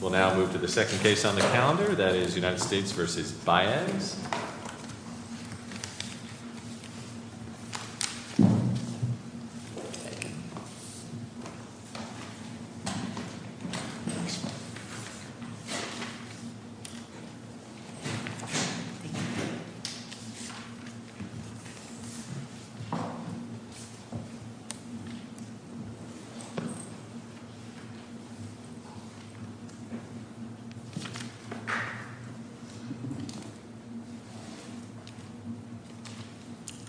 We'll now move to the second case on the calendar, that is United States v. Baez.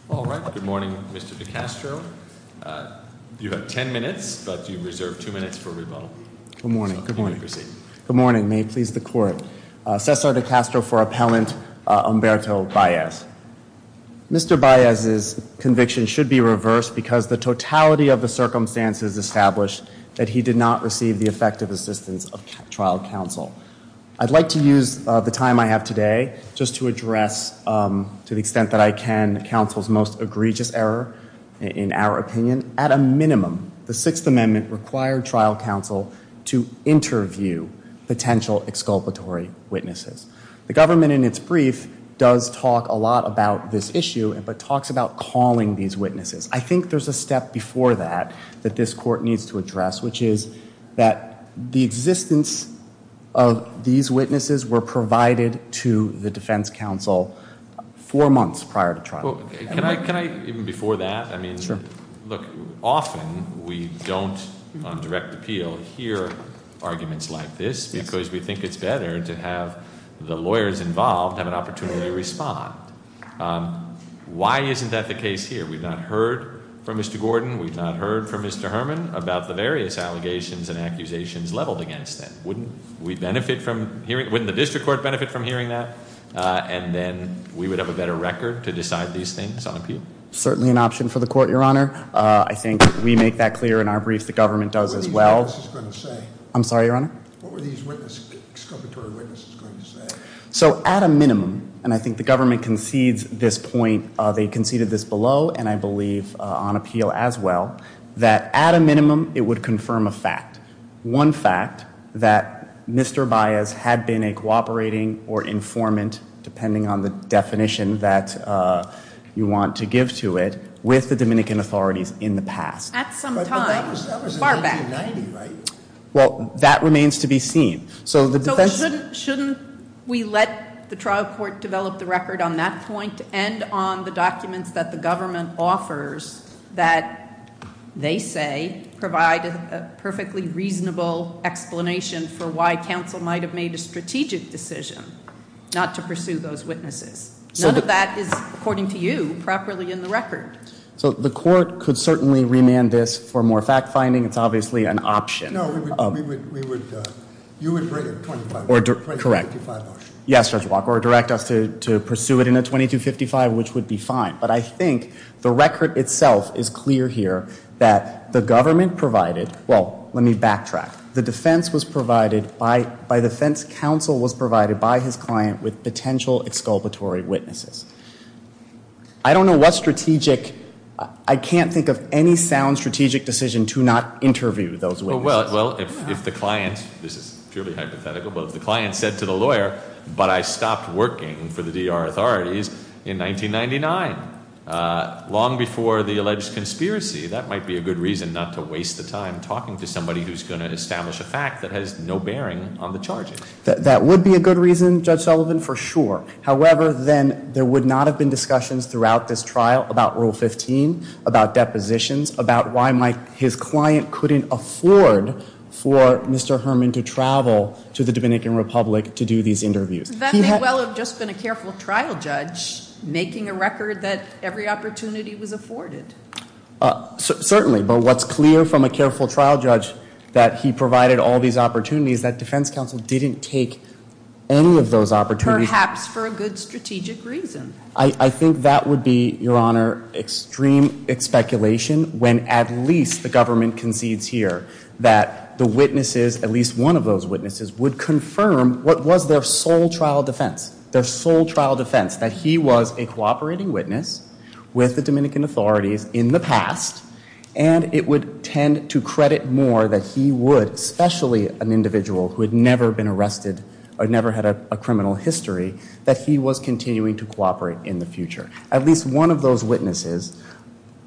All right. Good morning, Mr. DeCastro. You have ten minutes, but you reserve two minutes for rebuttal. Good morning. Good morning. Good morning. May it please the court. Cesar DeCastro for appellant Umberto Baez. Mr. Baez's conviction should be reversed because the totality of the circumstances established that he did not receive the effective assistance of trial counsel. I'd like to use the time I have today just to address, to the extent that I can, counsel's most egregious error in our opinion. At a minimum, the Sixth Amendment required trial counsel to interview potential exculpatory witnesses. The government, in its brief, does talk a lot about this issue, but talks about calling these witnesses. I think there's a step before that that this court needs to address, which is that the existence of these witnesses were provided to the defense counsel four months prior to trial. Can I, even before that, I mean, look, often we don't, on direct appeal, hear arguments like this because we think it's better to have the lawyers involved have an opportunity to respond. Why isn't that the case here? We've not heard from Mr. Gordon. We've not heard from Mr. Herman about the various allegations and accusations leveled against them. Wouldn't we benefit from hearing, wouldn't the district court benefit from hearing that? And then we would have a better record to decide these things on appeal? Certainly an option for the court, Your Honor. I think we make that clear in our brief. The government does as well. I'm sorry, Your Honor? So at a minimum, and I think the government concedes this point, they conceded this below, and I believe on appeal as well, that at a minimum it would confirm a fact. One fact, that Mr. Baez had been a cooperating or informant, depending on the definition that you want to give to it, with the Dominican authorities in the past. At some time. But that was in 1990, right? Well, that remains to be seen. So shouldn't we let the trial court develop the record on that point and on the documents that the government offers that they say provide a perfectly reasonable explanation for why counsel might have made a strategic decision not to pursue those witnesses? None of that is, according to you, properly in the record. So the court could certainly remand this for more fact finding. It's obviously an option. No, we would, you would bring a 2255 option. Correct. Yes, Judge Walker, or direct us to pursue it in a 2255, which would be fine. But I think the record itself is clear here that the government provided, well, let me backtrack. The defense was provided by, the defense counsel was provided by his client with potential exculpatory witnesses. I don't know what strategic, I can't think of any sound strategic decision to not interview those witnesses. Well, if the client, this is purely hypothetical, but if the client said to the lawyer, but I stopped working for the D.R. authorities in 1999, long before the alleged conspiracy, that might be a good reason not to waste the time talking to somebody who's going to establish a fact that has no bearing on the charges. That would be a good reason, Judge Sullivan, for sure. However, then there would not have been discussions throughout this trial about Rule 15, about depositions, about why his client couldn't afford for Mr. Herman to travel to the Dominican Republic to do these interviews. That may well have just been a careful trial judge making a record that every opportunity was afforded. Certainly, but what's clear from a careful trial judge that he provided all these opportunities, that defense counsel didn't take any of those opportunities. Perhaps for a good strategic reason. I think that would be, Your Honor, extreme speculation when at least the government concedes here that the witnesses, at least one of those witnesses, would confirm what was their sole trial defense. Their sole trial defense, that he was a cooperating witness with the Dominican authorities in the past, and it would tend to credit more that he would, especially an individual who had never been arrested that he was continuing to cooperate in the future. At least one of those witnesses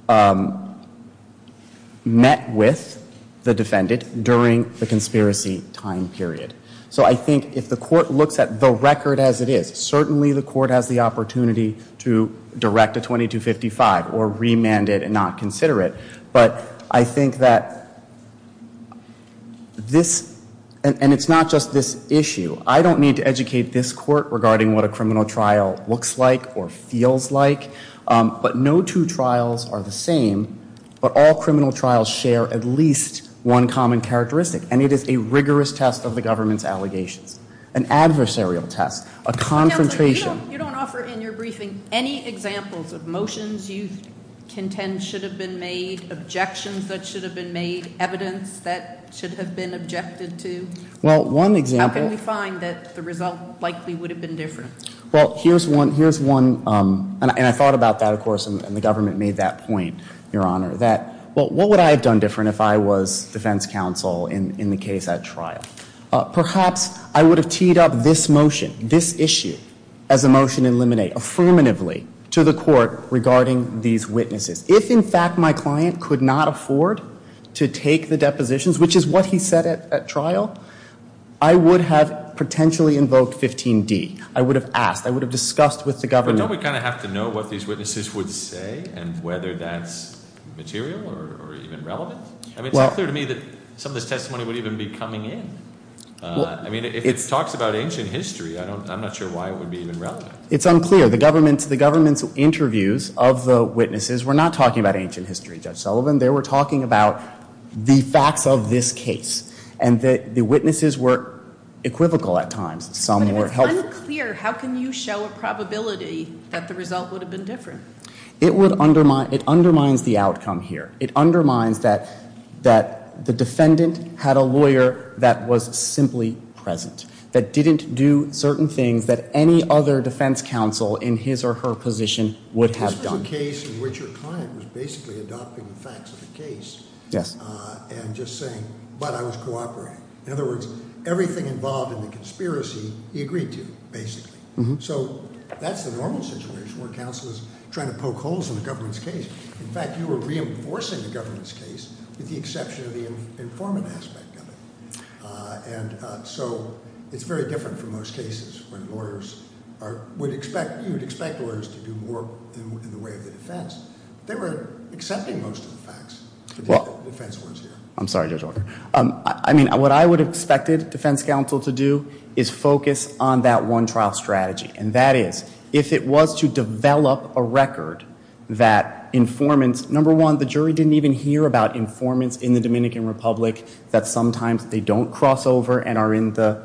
met with the defendant during the conspiracy time period. So I think if the court looks at the record as it is, certainly the court has the opportunity to direct a 2255 or remand it and not consider it, but I think that this, and it's not just this issue, I don't need to educate this court regarding what a criminal trial looks like or feels like, but no two trials are the same, but all criminal trials share at least one common characteristic, and it is a rigorous test of the government's allegations, an adversarial test, a confrontation. Counselor, you don't offer in your briefing any examples of motions you contend should have been made, objections that should have been made, evidence that should have been objected to? Well, one example. How can we find that the result likely would have been different? Well, here's one, and I thought about that, of course, and the government made that point, Your Honor, that what would I have done different if I was defense counsel in the case at trial? Perhaps I would have teed up this motion, this issue, as a motion to eliminate, affirmatively to the court regarding these witnesses. If, in fact, my client could not afford to take the depositions, which is what he said at trial, I would have potentially invoked 15D. I would have asked. I would have discussed with the government. But don't we kind of have to know what these witnesses would say and whether that's material or even relevant? I mean, it's unclear to me that some of this testimony would even be coming in. I mean, if it talks about ancient history, I'm not sure why it would be even relevant. It's unclear. The government's interviews of the witnesses were not talking about ancient history, Judge Sullivan. They were talking about the facts of this case, and the witnesses were equivocal at times. But if it's unclear, how can you show a probability that the result would have been different? It undermines the outcome here. It undermines that the defendant had a lawyer that was simply present, that didn't do certain things that any other defense counsel in his or her position would have done. This was a case in which your client was basically adopting the facts of the case and just saying, but I was cooperating. In other words, everything involved in the conspiracy he agreed to, basically. So that's the normal situation where counsel is trying to poke holes in the government's case. In fact, you were reinforcing the government's case with the exception of the informant aspect of it. And so it's very different from most cases when lawyers are, you would expect lawyers to do more in the way of the defense. They were accepting most of the facts, the defense lawyers here. I'm sorry, Judge Walker. I mean, what I would have expected defense counsel to do is focus on that one trial strategy. And that is, if it was to develop a record that informants, number one, the jury didn't even hear about informants in the Dominican Republic that sometimes they don't cross over and are in the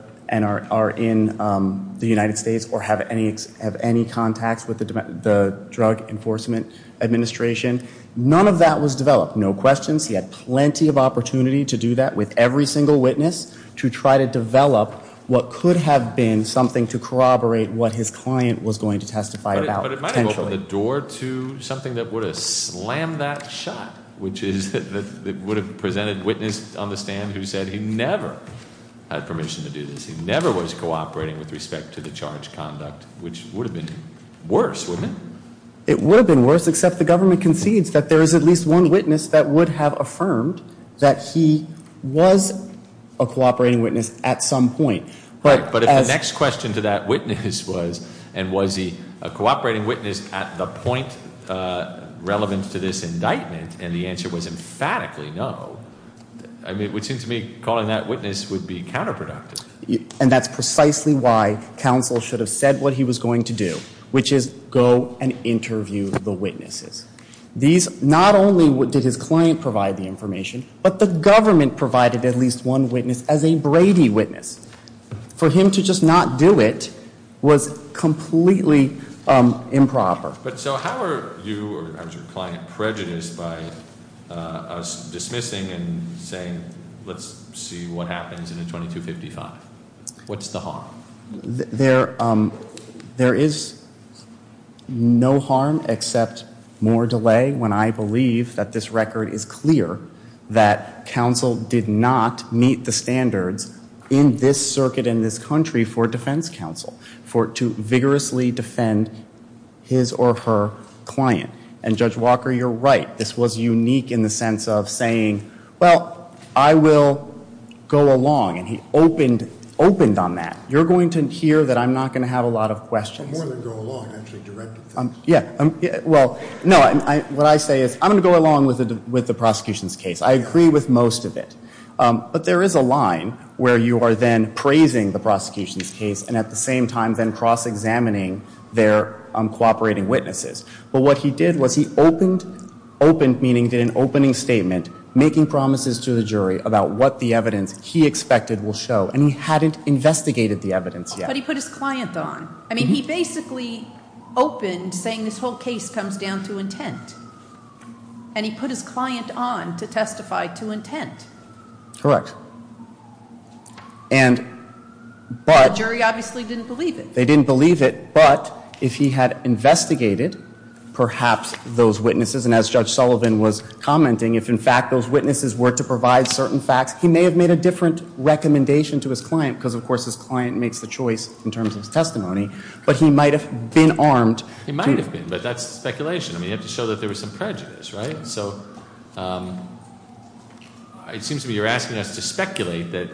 United States or have any contacts with the Drug Enforcement Administration. None of that was developed. No questions. He had plenty of opportunity to do that with every single witness, to try to develop what could have been something to corroborate what his client was going to testify about. But it might have opened the door to something that would have slammed that shot, which is that it would have presented witness on the stand who said he never had permission to do this. He never was cooperating with respect to the charge conduct, which would have been worse, wouldn't it? It would have been worse, except the government concedes that there is at least one witness that would have affirmed that he was a cooperating witness at some point. But if the next question to that witness was, and was he a cooperating witness at the point relevant to this indictment, and the answer was emphatically no, it would seem to me calling that witness would be counterproductive. And that's precisely why counsel should have said what he was going to do, which is go and interview the witnesses. These, not only did his client provide the information, but the government provided at least one witness as a Brady witness. For him to just not do it was completely improper. But so how are you, as your client, prejudiced by us dismissing and saying let's see what happens in the 2255? What's the harm? There is no harm except more delay when I believe that this record is clear that counsel did not meet the standards in this circuit and this country for defense counsel to vigorously defend his or her client. And Judge Walker, you're right. This was unique in the sense of saying, well, I will go along. And he opened on that. You're going to hear that I'm not going to have a lot of questions. More than go along. Yeah. Well, no, what I say is I'm going to go along with the prosecution's case. I agree with most of it. But there is a line where you are then praising the prosecution's case and at the same time then cross-examining their cooperating witnesses. But what he did was he opened, opened meaning did an opening statement, making promises to the jury about what the evidence he expected will show. And he hadn't investigated the evidence yet. But he put his client on. I mean, he basically opened saying this whole case comes down to intent. And he put his client on to testify to intent. Correct. And but. The jury obviously didn't believe it. They didn't believe it. But if he had investigated perhaps those witnesses, and as Judge Sullivan was commenting, if in fact those witnesses were to provide certain facts, he may have made a different recommendation to his client because, of course, his client makes the choice in terms of his testimony. But he might have been armed. He might have been. But that's speculation. I mean, you have to show that there was some prejudice, right? So it seems to me you're asking us to speculate that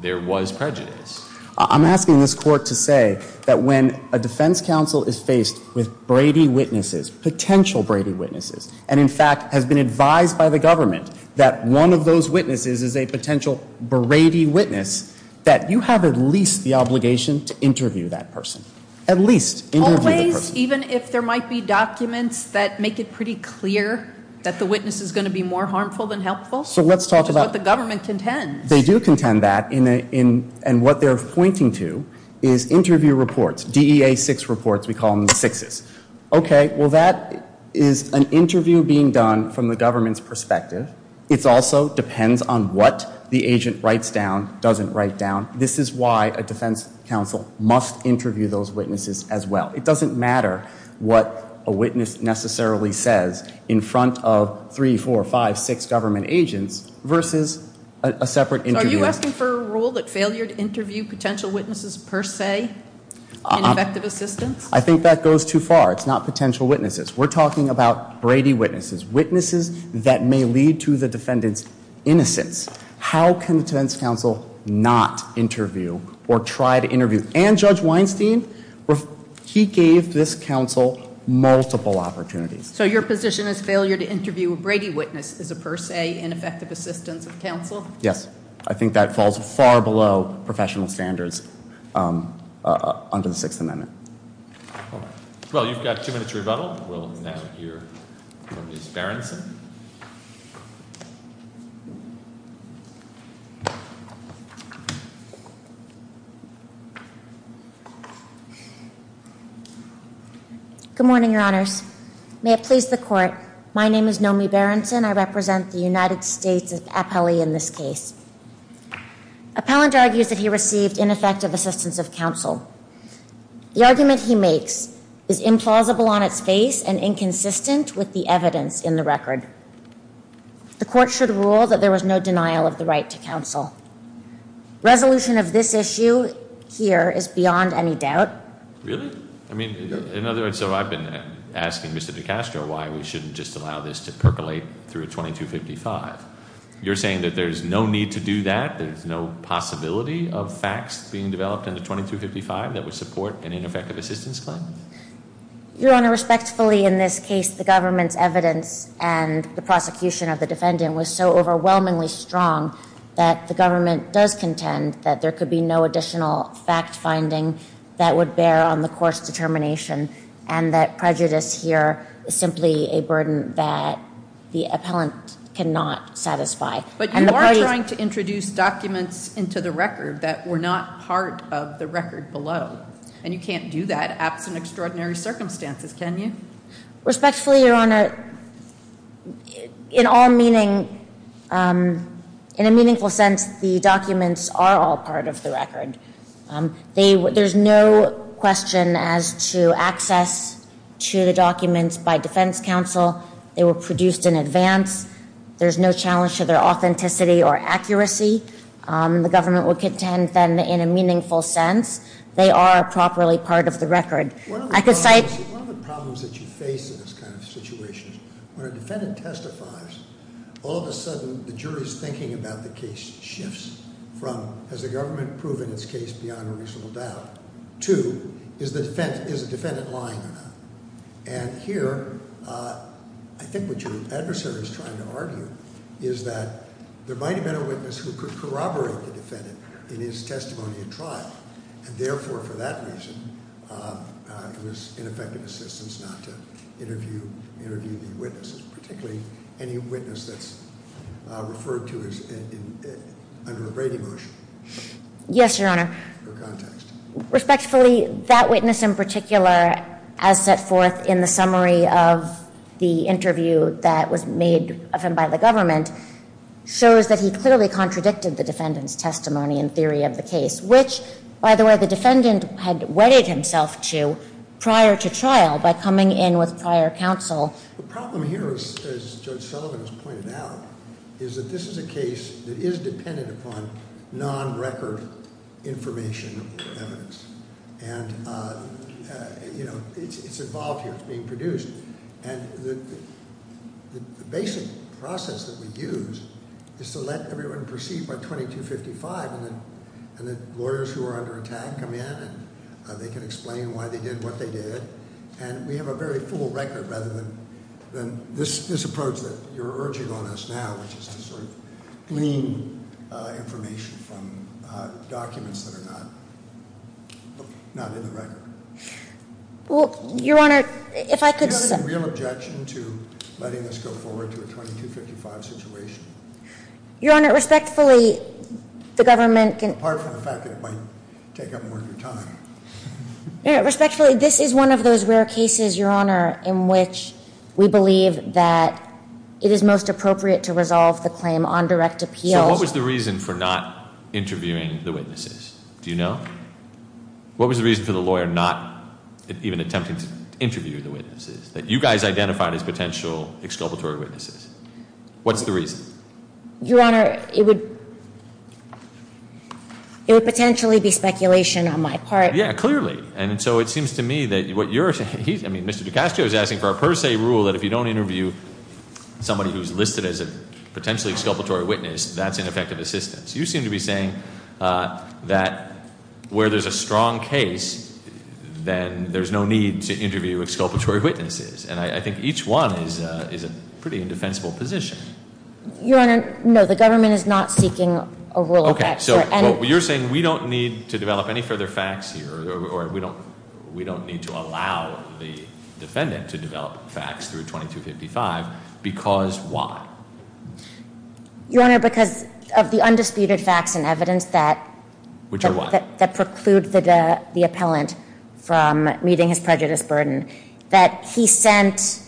there was prejudice. I'm asking this court to say that when a defense counsel is faced with Brady witnesses, potential Brady witnesses, and in fact has been advised by the government that one of those witnesses is a potential Brady witness, that you have at least the obligation to interview that person. At least interview the person. Always, even if there might be documents that make it pretty clear that the witness is going to be more harmful than helpful. So let's talk about. Which is what the government contends. And they do contend that. And what they're pointing to is interview reports. DEA six reports. We call them the sixes. Okay. Well, that is an interview being done from the government's perspective. It also depends on what the agent writes down, doesn't write down. This is why a defense counsel must interview those witnesses as well. It doesn't matter what a witness necessarily says in front of three, four, five, six government agents versus a separate interviewer. Are you asking for a rule that failure to interview potential witnesses per se in effective assistance? I think that goes too far. It's not potential witnesses. We're talking about Brady witnesses. Witnesses that may lead to the defendant's innocence. How can a defense counsel not interview or try to interview? And Judge Weinstein, he gave this counsel multiple opportunities. So your position is failure to interview a Brady witness is a per se ineffective assistance of counsel? Yes. I think that falls far below professional standards under the Sixth Amendment. Well, you've got two minutes to rebuttal. We'll now hear from Ms. Berenson. Good morning, Your Honors. May it please the court. My name is Nomi Berenson. I represent the United States appellee in this case. Appellant argues that he received ineffective assistance of counsel. The argument he makes is implausible on its face and inconsistent with the evidence in the record. The court should rule that there was no denial of the right to counsel. Resolution of this issue here is beyond any doubt. Really? I mean, in other words, so I've been asking Mr. DeCastro why we shouldn't just allow this to percolate through a 2255. You're saying that there's no need to do that? There's no possibility of facts being developed in the 2255 that would support an ineffective assistance claim? Your Honor, respectfully, in this case, the government's evidence and the prosecution of the defendant was so overwhelmingly strong that the government does contend that there could be no additional fact-finding that would bear on the court's determination and that prejudice here is simply a burden that the appellant cannot satisfy. But you are trying to introduce documents into the record that were not part of the record below, and you can't do that absent extraordinary circumstances, can you? Respectfully, Your Honor, in all meaning, in a meaningful sense, the documents are all part of the record. There's no question as to access to the documents by defense counsel. They were produced in advance. There's no challenge to their authenticity or accuracy. The government would contend then in a meaningful sense. They are a properly part of the record. I could cite- One of the problems that you face in this kind of situation is when a defendant testifies, all of a sudden the jury's thinking about the case shifts from has the government proven its case beyond a reasonable doubt to is the defendant lying or not? And here, I think what your adversary is trying to argue is that there might have been a witness who could corroborate the defendant in his testimony at trial. And therefore, for that reason, it was ineffective assistance not to interview the witnesses, particularly any witness that's referred to as under a Brady motion. Yes, Your Honor. For context. Respectfully, that witness in particular, as set forth in the summary of the interview that was made of him by the government, shows that he clearly contradicted the defendant's testimony in theory of the case, which, by the way, the defendant had wedded himself to prior to trial by coming in with prior counsel. The problem here, as Judge Sullivan has pointed out, is that this is a case that is dependent upon non-record information evidence. And, you know, it's involved here. It's being produced. And the basic process that we use is to let everyone proceed by 2255, and then lawyers who are under attack come in and they can explain why they did what they did. And we have a very full record rather than this approach that you're urging on us now, which is to sort of glean information from documents that are not in the record. Well, Your Honor, if I could say... Do you have any real objection to letting us go forward to a 2255 situation? Your Honor, respectfully, the government can... Apart from the fact that it might take up more of your time. Respectfully, this is one of those rare cases, Your Honor, in which we believe that it is most appropriate to resolve the claim on direct appeal. So what was the reason for not interviewing the witnesses? Do you know? What was the reason for the lawyer not even attempting to interview the witnesses, that you guys identified as potential exculpatory witnesses? What's the reason? Your Honor, it would potentially be speculation on my part. Yeah, clearly. And so it seems to me that what you're saying... I mean, Mr. Ducascio is asking for a per se rule that if you don't interview somebody who's listed as a potentially exculpatory witness, that's ineffective assistance. You seem to be saying that where there's a strong case, then there's no need to interview exculpatory witnesses. And I think each one is a pretty indefensible position. Your Honor, no, the government is not seeking a rule of that. Okay. So you're saying we don't need to develop any further facts here or we don't need to allow the defendant to develop facts through 2255 because why? Your Honor, because of the undisputed facts and evidence that preclude the appellant from meeting his prejudice burden, that he sent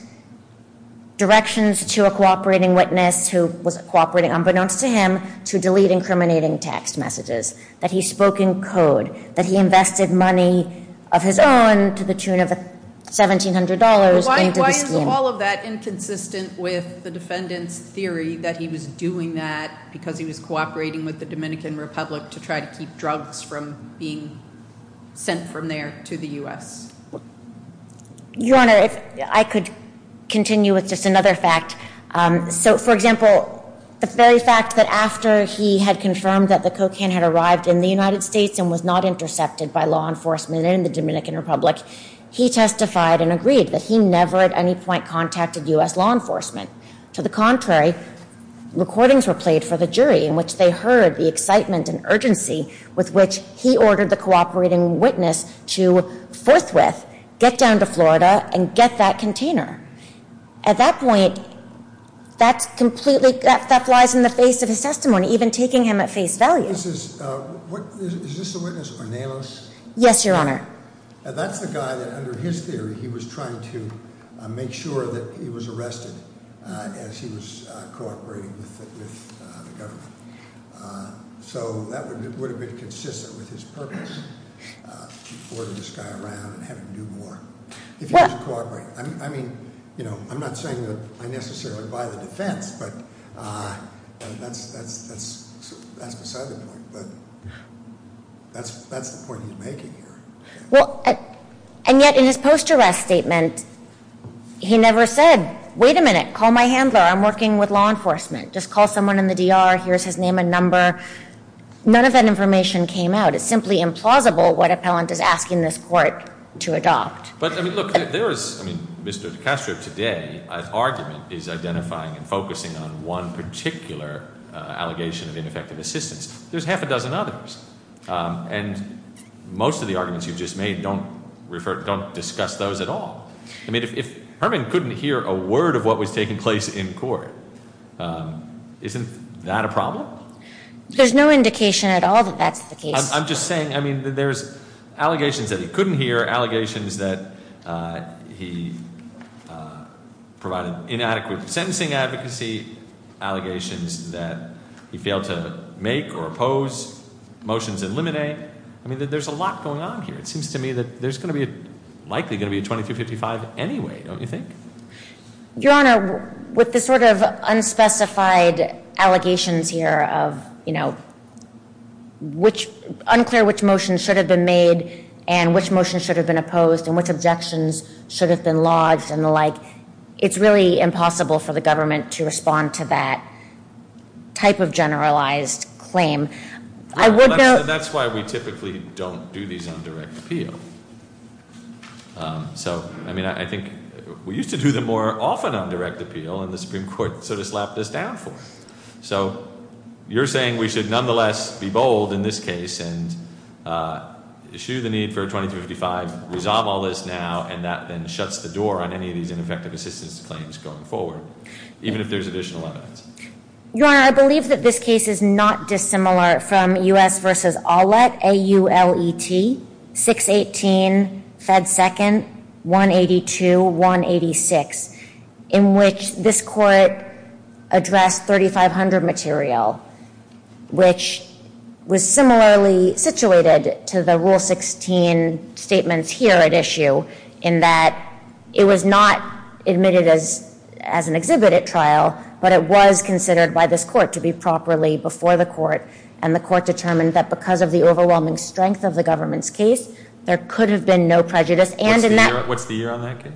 directions to a cooperating witness who was cooperating unbeknownst to him to delete incriminating text messages, that he spoke in code, that he invested money of his own to the tune of $1,700 into the scheme. Is all of that inconsistent with the defendant's theory that he was doing that because he was cooperating with the Dominican Republic to try to keep drugs from being sent from there to the U.S.? Your Honor, if I could continue with just another fact. So, for example, the very fact that after he had confirmed that the cocaine had arrived in the United States and was not intercepted by law enforcement in the Dominican Republic, he testified and agreed that he never at any point contacted U.S. law enforcement. To the contrary, recordings were played for the jury in which they heard the excitement and urgency with which he ordered the cooperating witness to forthwith get down to Florida and get that container. At that point, that completely flies in the face of his testimony, even taking him at face value. Is this a witness, Ornelas? Yes, Your Honor. That's the guy that under his theory he was trying to make sure that he was arrested as he was cooperating with the government. So that would have been consistent with his purpose, to order this guy around and have him do more. I mean, I'm not saying that I necessarily buy the defense, but that's beside the point. But that's the point he's making here. And yet in his post-arrest statement, he never said, wait a minute, call my handler. I'm working with law enforcement. Just call someone in the DR. Here's his name and number. None of that information came out. It's simply implausible what appellant is asking this court to adopt. But, I mean, look, there is, I mean, Mr. DeCastro today's argument is identifying and focusing on one particular allegation of ineffective assistance. There's half a dozen others. And most of the arguments you've just made don't discuss those at all. I mean, if Herman couldn't hear a word of what was taking place in court, isn't that a problem? There's no indication at all that that's the case. I'm just saying, I mean, there's allegations that he couldn't hear, allegations that he provided inadequate sentencing advocacy, allegations that he failed to make or oppose, motions in limine. I mean, there's a lot going on here. It seems to me that there's likely going to be a 2355 anyway, don't you think? Your Honor, with the sort of unspecified allegations here of, you know, unclear which motion should have been made and which motion should have been opposed and which objections should have been lodged and the like, it's really impossible for the government to respond to that type of generalized claim. I would note- That's why we typically don't do these on direct appeal. So, I mean, I think we used to do them more often on direct appeal, and the Supreme Court sort of slapped us down for it. So you're saying we should nonetheless be bold in this case and issue the need for a 2355, resolve all this now, and that then shuts the door on any of these ineffective assistance claims going forward, even if there's additional evidence. Your Honor, I believe that this case is not dissimilar from U.S. v. Aulet, A-U-L-E-T, 618, Fed 2nd, 182, 186, in which this court addressed 3500 material, which was similarly situated to the Rule 16 statements here at issue, in that it was not admitted as an exhibited trial, but it was considered by this court to be properly before the court, and the court determined that because of the overwhelming strength of the government's case, there could have been no prejudice. And in that- What's the year on that case?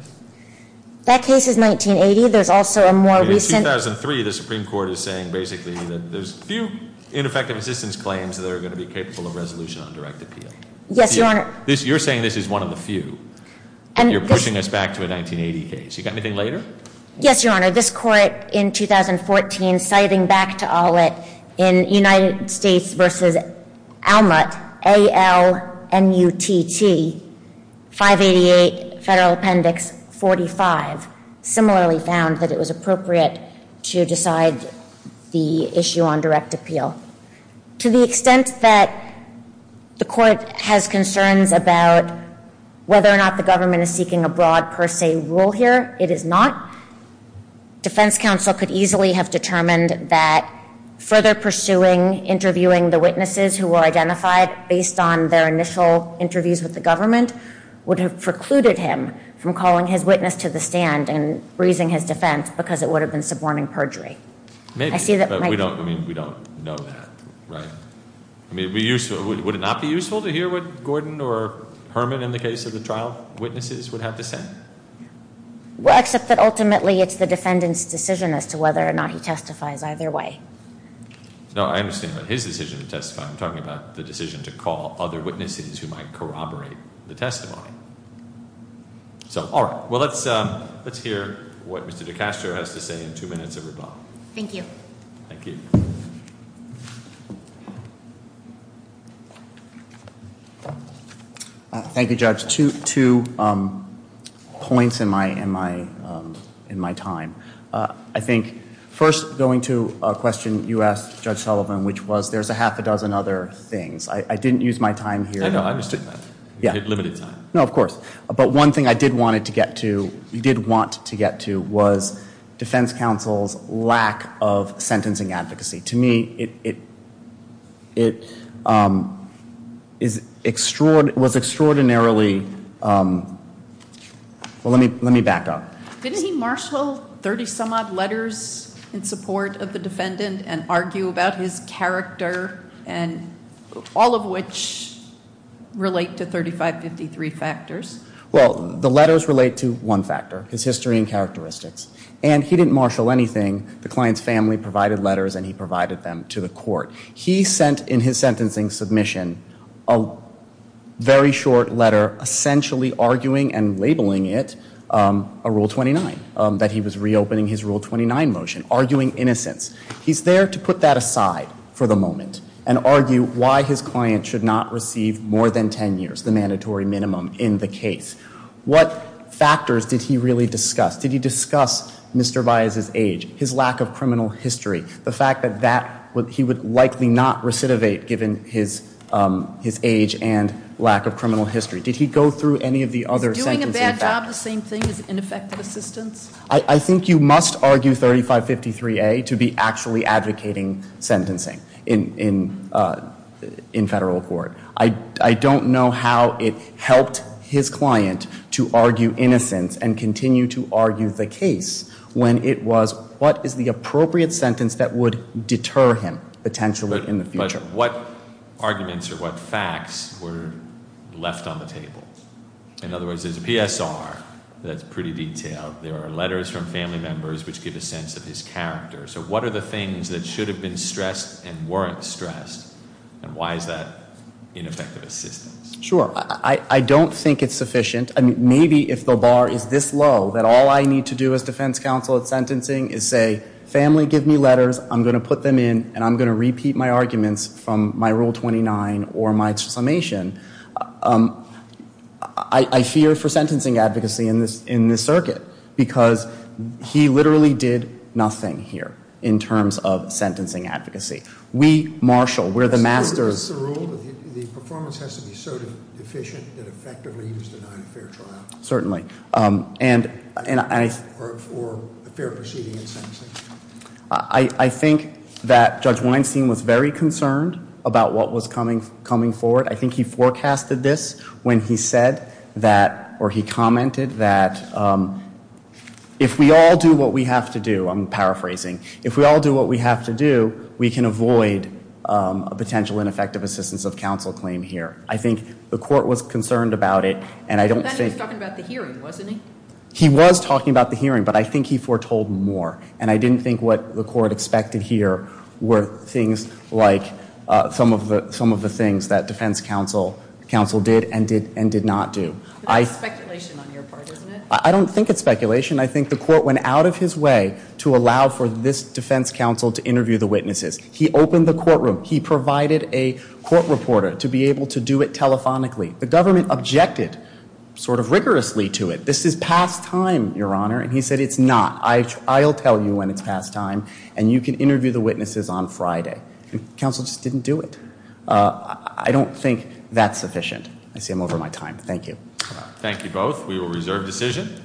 That case is 1980. There's also a more recent- In 2003, the Supreme Court is saying basically that there's few ineffective assistance claims that are going to be capable of resolution on direct appeal. Yes, Your Honor. You're saying this is one of the few, and you're pushing us back to a 1980 case. You got anything later? Yes, Your Honor. This court in 2014, citing back to Aulet in United States v. Aulet, A-L-M-U-T-T, 588, Federal Appendix 45, similarly found that it was appropriate to decide the issue on direct appeal. To the extent that the court has concerns about whether or not the government is seeking a broad per se rule here, it is not. Defense counsel could easily have determined that further pursuing interviewing the witnesses who were identified based on their initial interviews with the government would have precluded him from calling his witness to the stand and raising his defense because it would have been suborning perjury. Maybe, but we don't know that. Right? I mean, would it not be useful to hear what Gordon or Herman in the case of the trial witnesses would have to say? Well, except that ultimately it's the defendant's decision as to whether or not he testifies either way. No, I understand what his decision to testify. I'm talking about the decision to call other witnesses who might corroborate the testimony. So, all right. Well, let's hear what Mr. DeCastro has to say in two minutes of rebuttal. Thank you. Thank you. Thank you, Judge. Two points in my time. I think first going to a question you asked, Judge Sullivan, which was there's a half a dozen other things. I didn't use my time here. No, no, I understand that. You had limited time. No, of course. But one thing I did want to get to was defense counsel's lack of sentencing advocacy. To me, it was extraordinarily, well, let me back up. Didn't he marshal 30 some odd letters in support of the defendant and argue about his character and all of which relate to 3553 factors? Well, the letters relate to one factor, his history and characteristics. And he didn't marshal anything. The client's family provided letters and he provided them to the court. He sent in his sentencing submission a very short letter essentially arguing and labeling it a Rule 29, that he was reopening his Rule 29 motion, arguing innocence. He's there to put that aside for the moment and argue why his client should not receive more than 10 years, the mandatory minimum in the case. What factors did he really discuss? Did he discuss Mr. Baez's age, his lack of criminal history? The fact that he would likely not recidivate given his age and lack of criminal history. Did he go through any of the other sentencing factors? Is doing a bad job the same thing as ineffective assistance? I think you must argue 3553A to be actually advocating sentencing in federal court. I don't know how it helped his client to argue innocence and continue to argue the case when it was what is the appropriate sentence that would deter him potentially in the future. But what arguments or what facts were left on the table? In other words, there's a PSR that's pretty detailed. There are letters from family members which give a sense of his character. So what are the things that should have been stressed and weren't stressed? And why is that ineffective assistance? Sure. I don't think it's sufficient. I mean, maybe if the bar is this low that all I need to do as defense counsel at sentencing is say, family, give me letters. I'm going to put them in and I'm going to repeat my arguments from my Rule 29 or my summation. I fear for sentencing advocacy in this circuit because he literally did nothing here in terms of sentencing advocacy. We, Marshall, we're the masters. It's the rule that the performance has to be so deficient that effectively he was denied a fair trial. Certainly. Or a fair proceeding in sentencing. I think that Judge Weinstein was very concerned about what was coming forward. I think he forecasted this when he said that or he commented that if we all do what we have to do, I'm paraphrasing, if we all do what we have to do, we can avoid a potential ineffective assistance of counsel claim here. I think the court was concerned about it and I don't think. But then he was talking about the hearing, wasn't he? He was talking about the hearing, but I think he foretold more. And I didn't think what the court expected here were things like some of the things that defense counsel did and did not do. But that's speculation on your part, isn't it? I don't think it's speculation. I think the court went out of his way to allow for this defense counsel to interview the witnesses. He opened the courtroom. He provided a court reporter to be able to do it telephonically. The government objected sort of rigorously to it. This is past time, Your Honor. And he said it's not. I'll tell you when it's past time and you can interview the witnesses on Friday. Counsel just didn't do it. I don't think that's sufficient. I see I'm over my time. Thank you. Thank you both. We will reserve decision.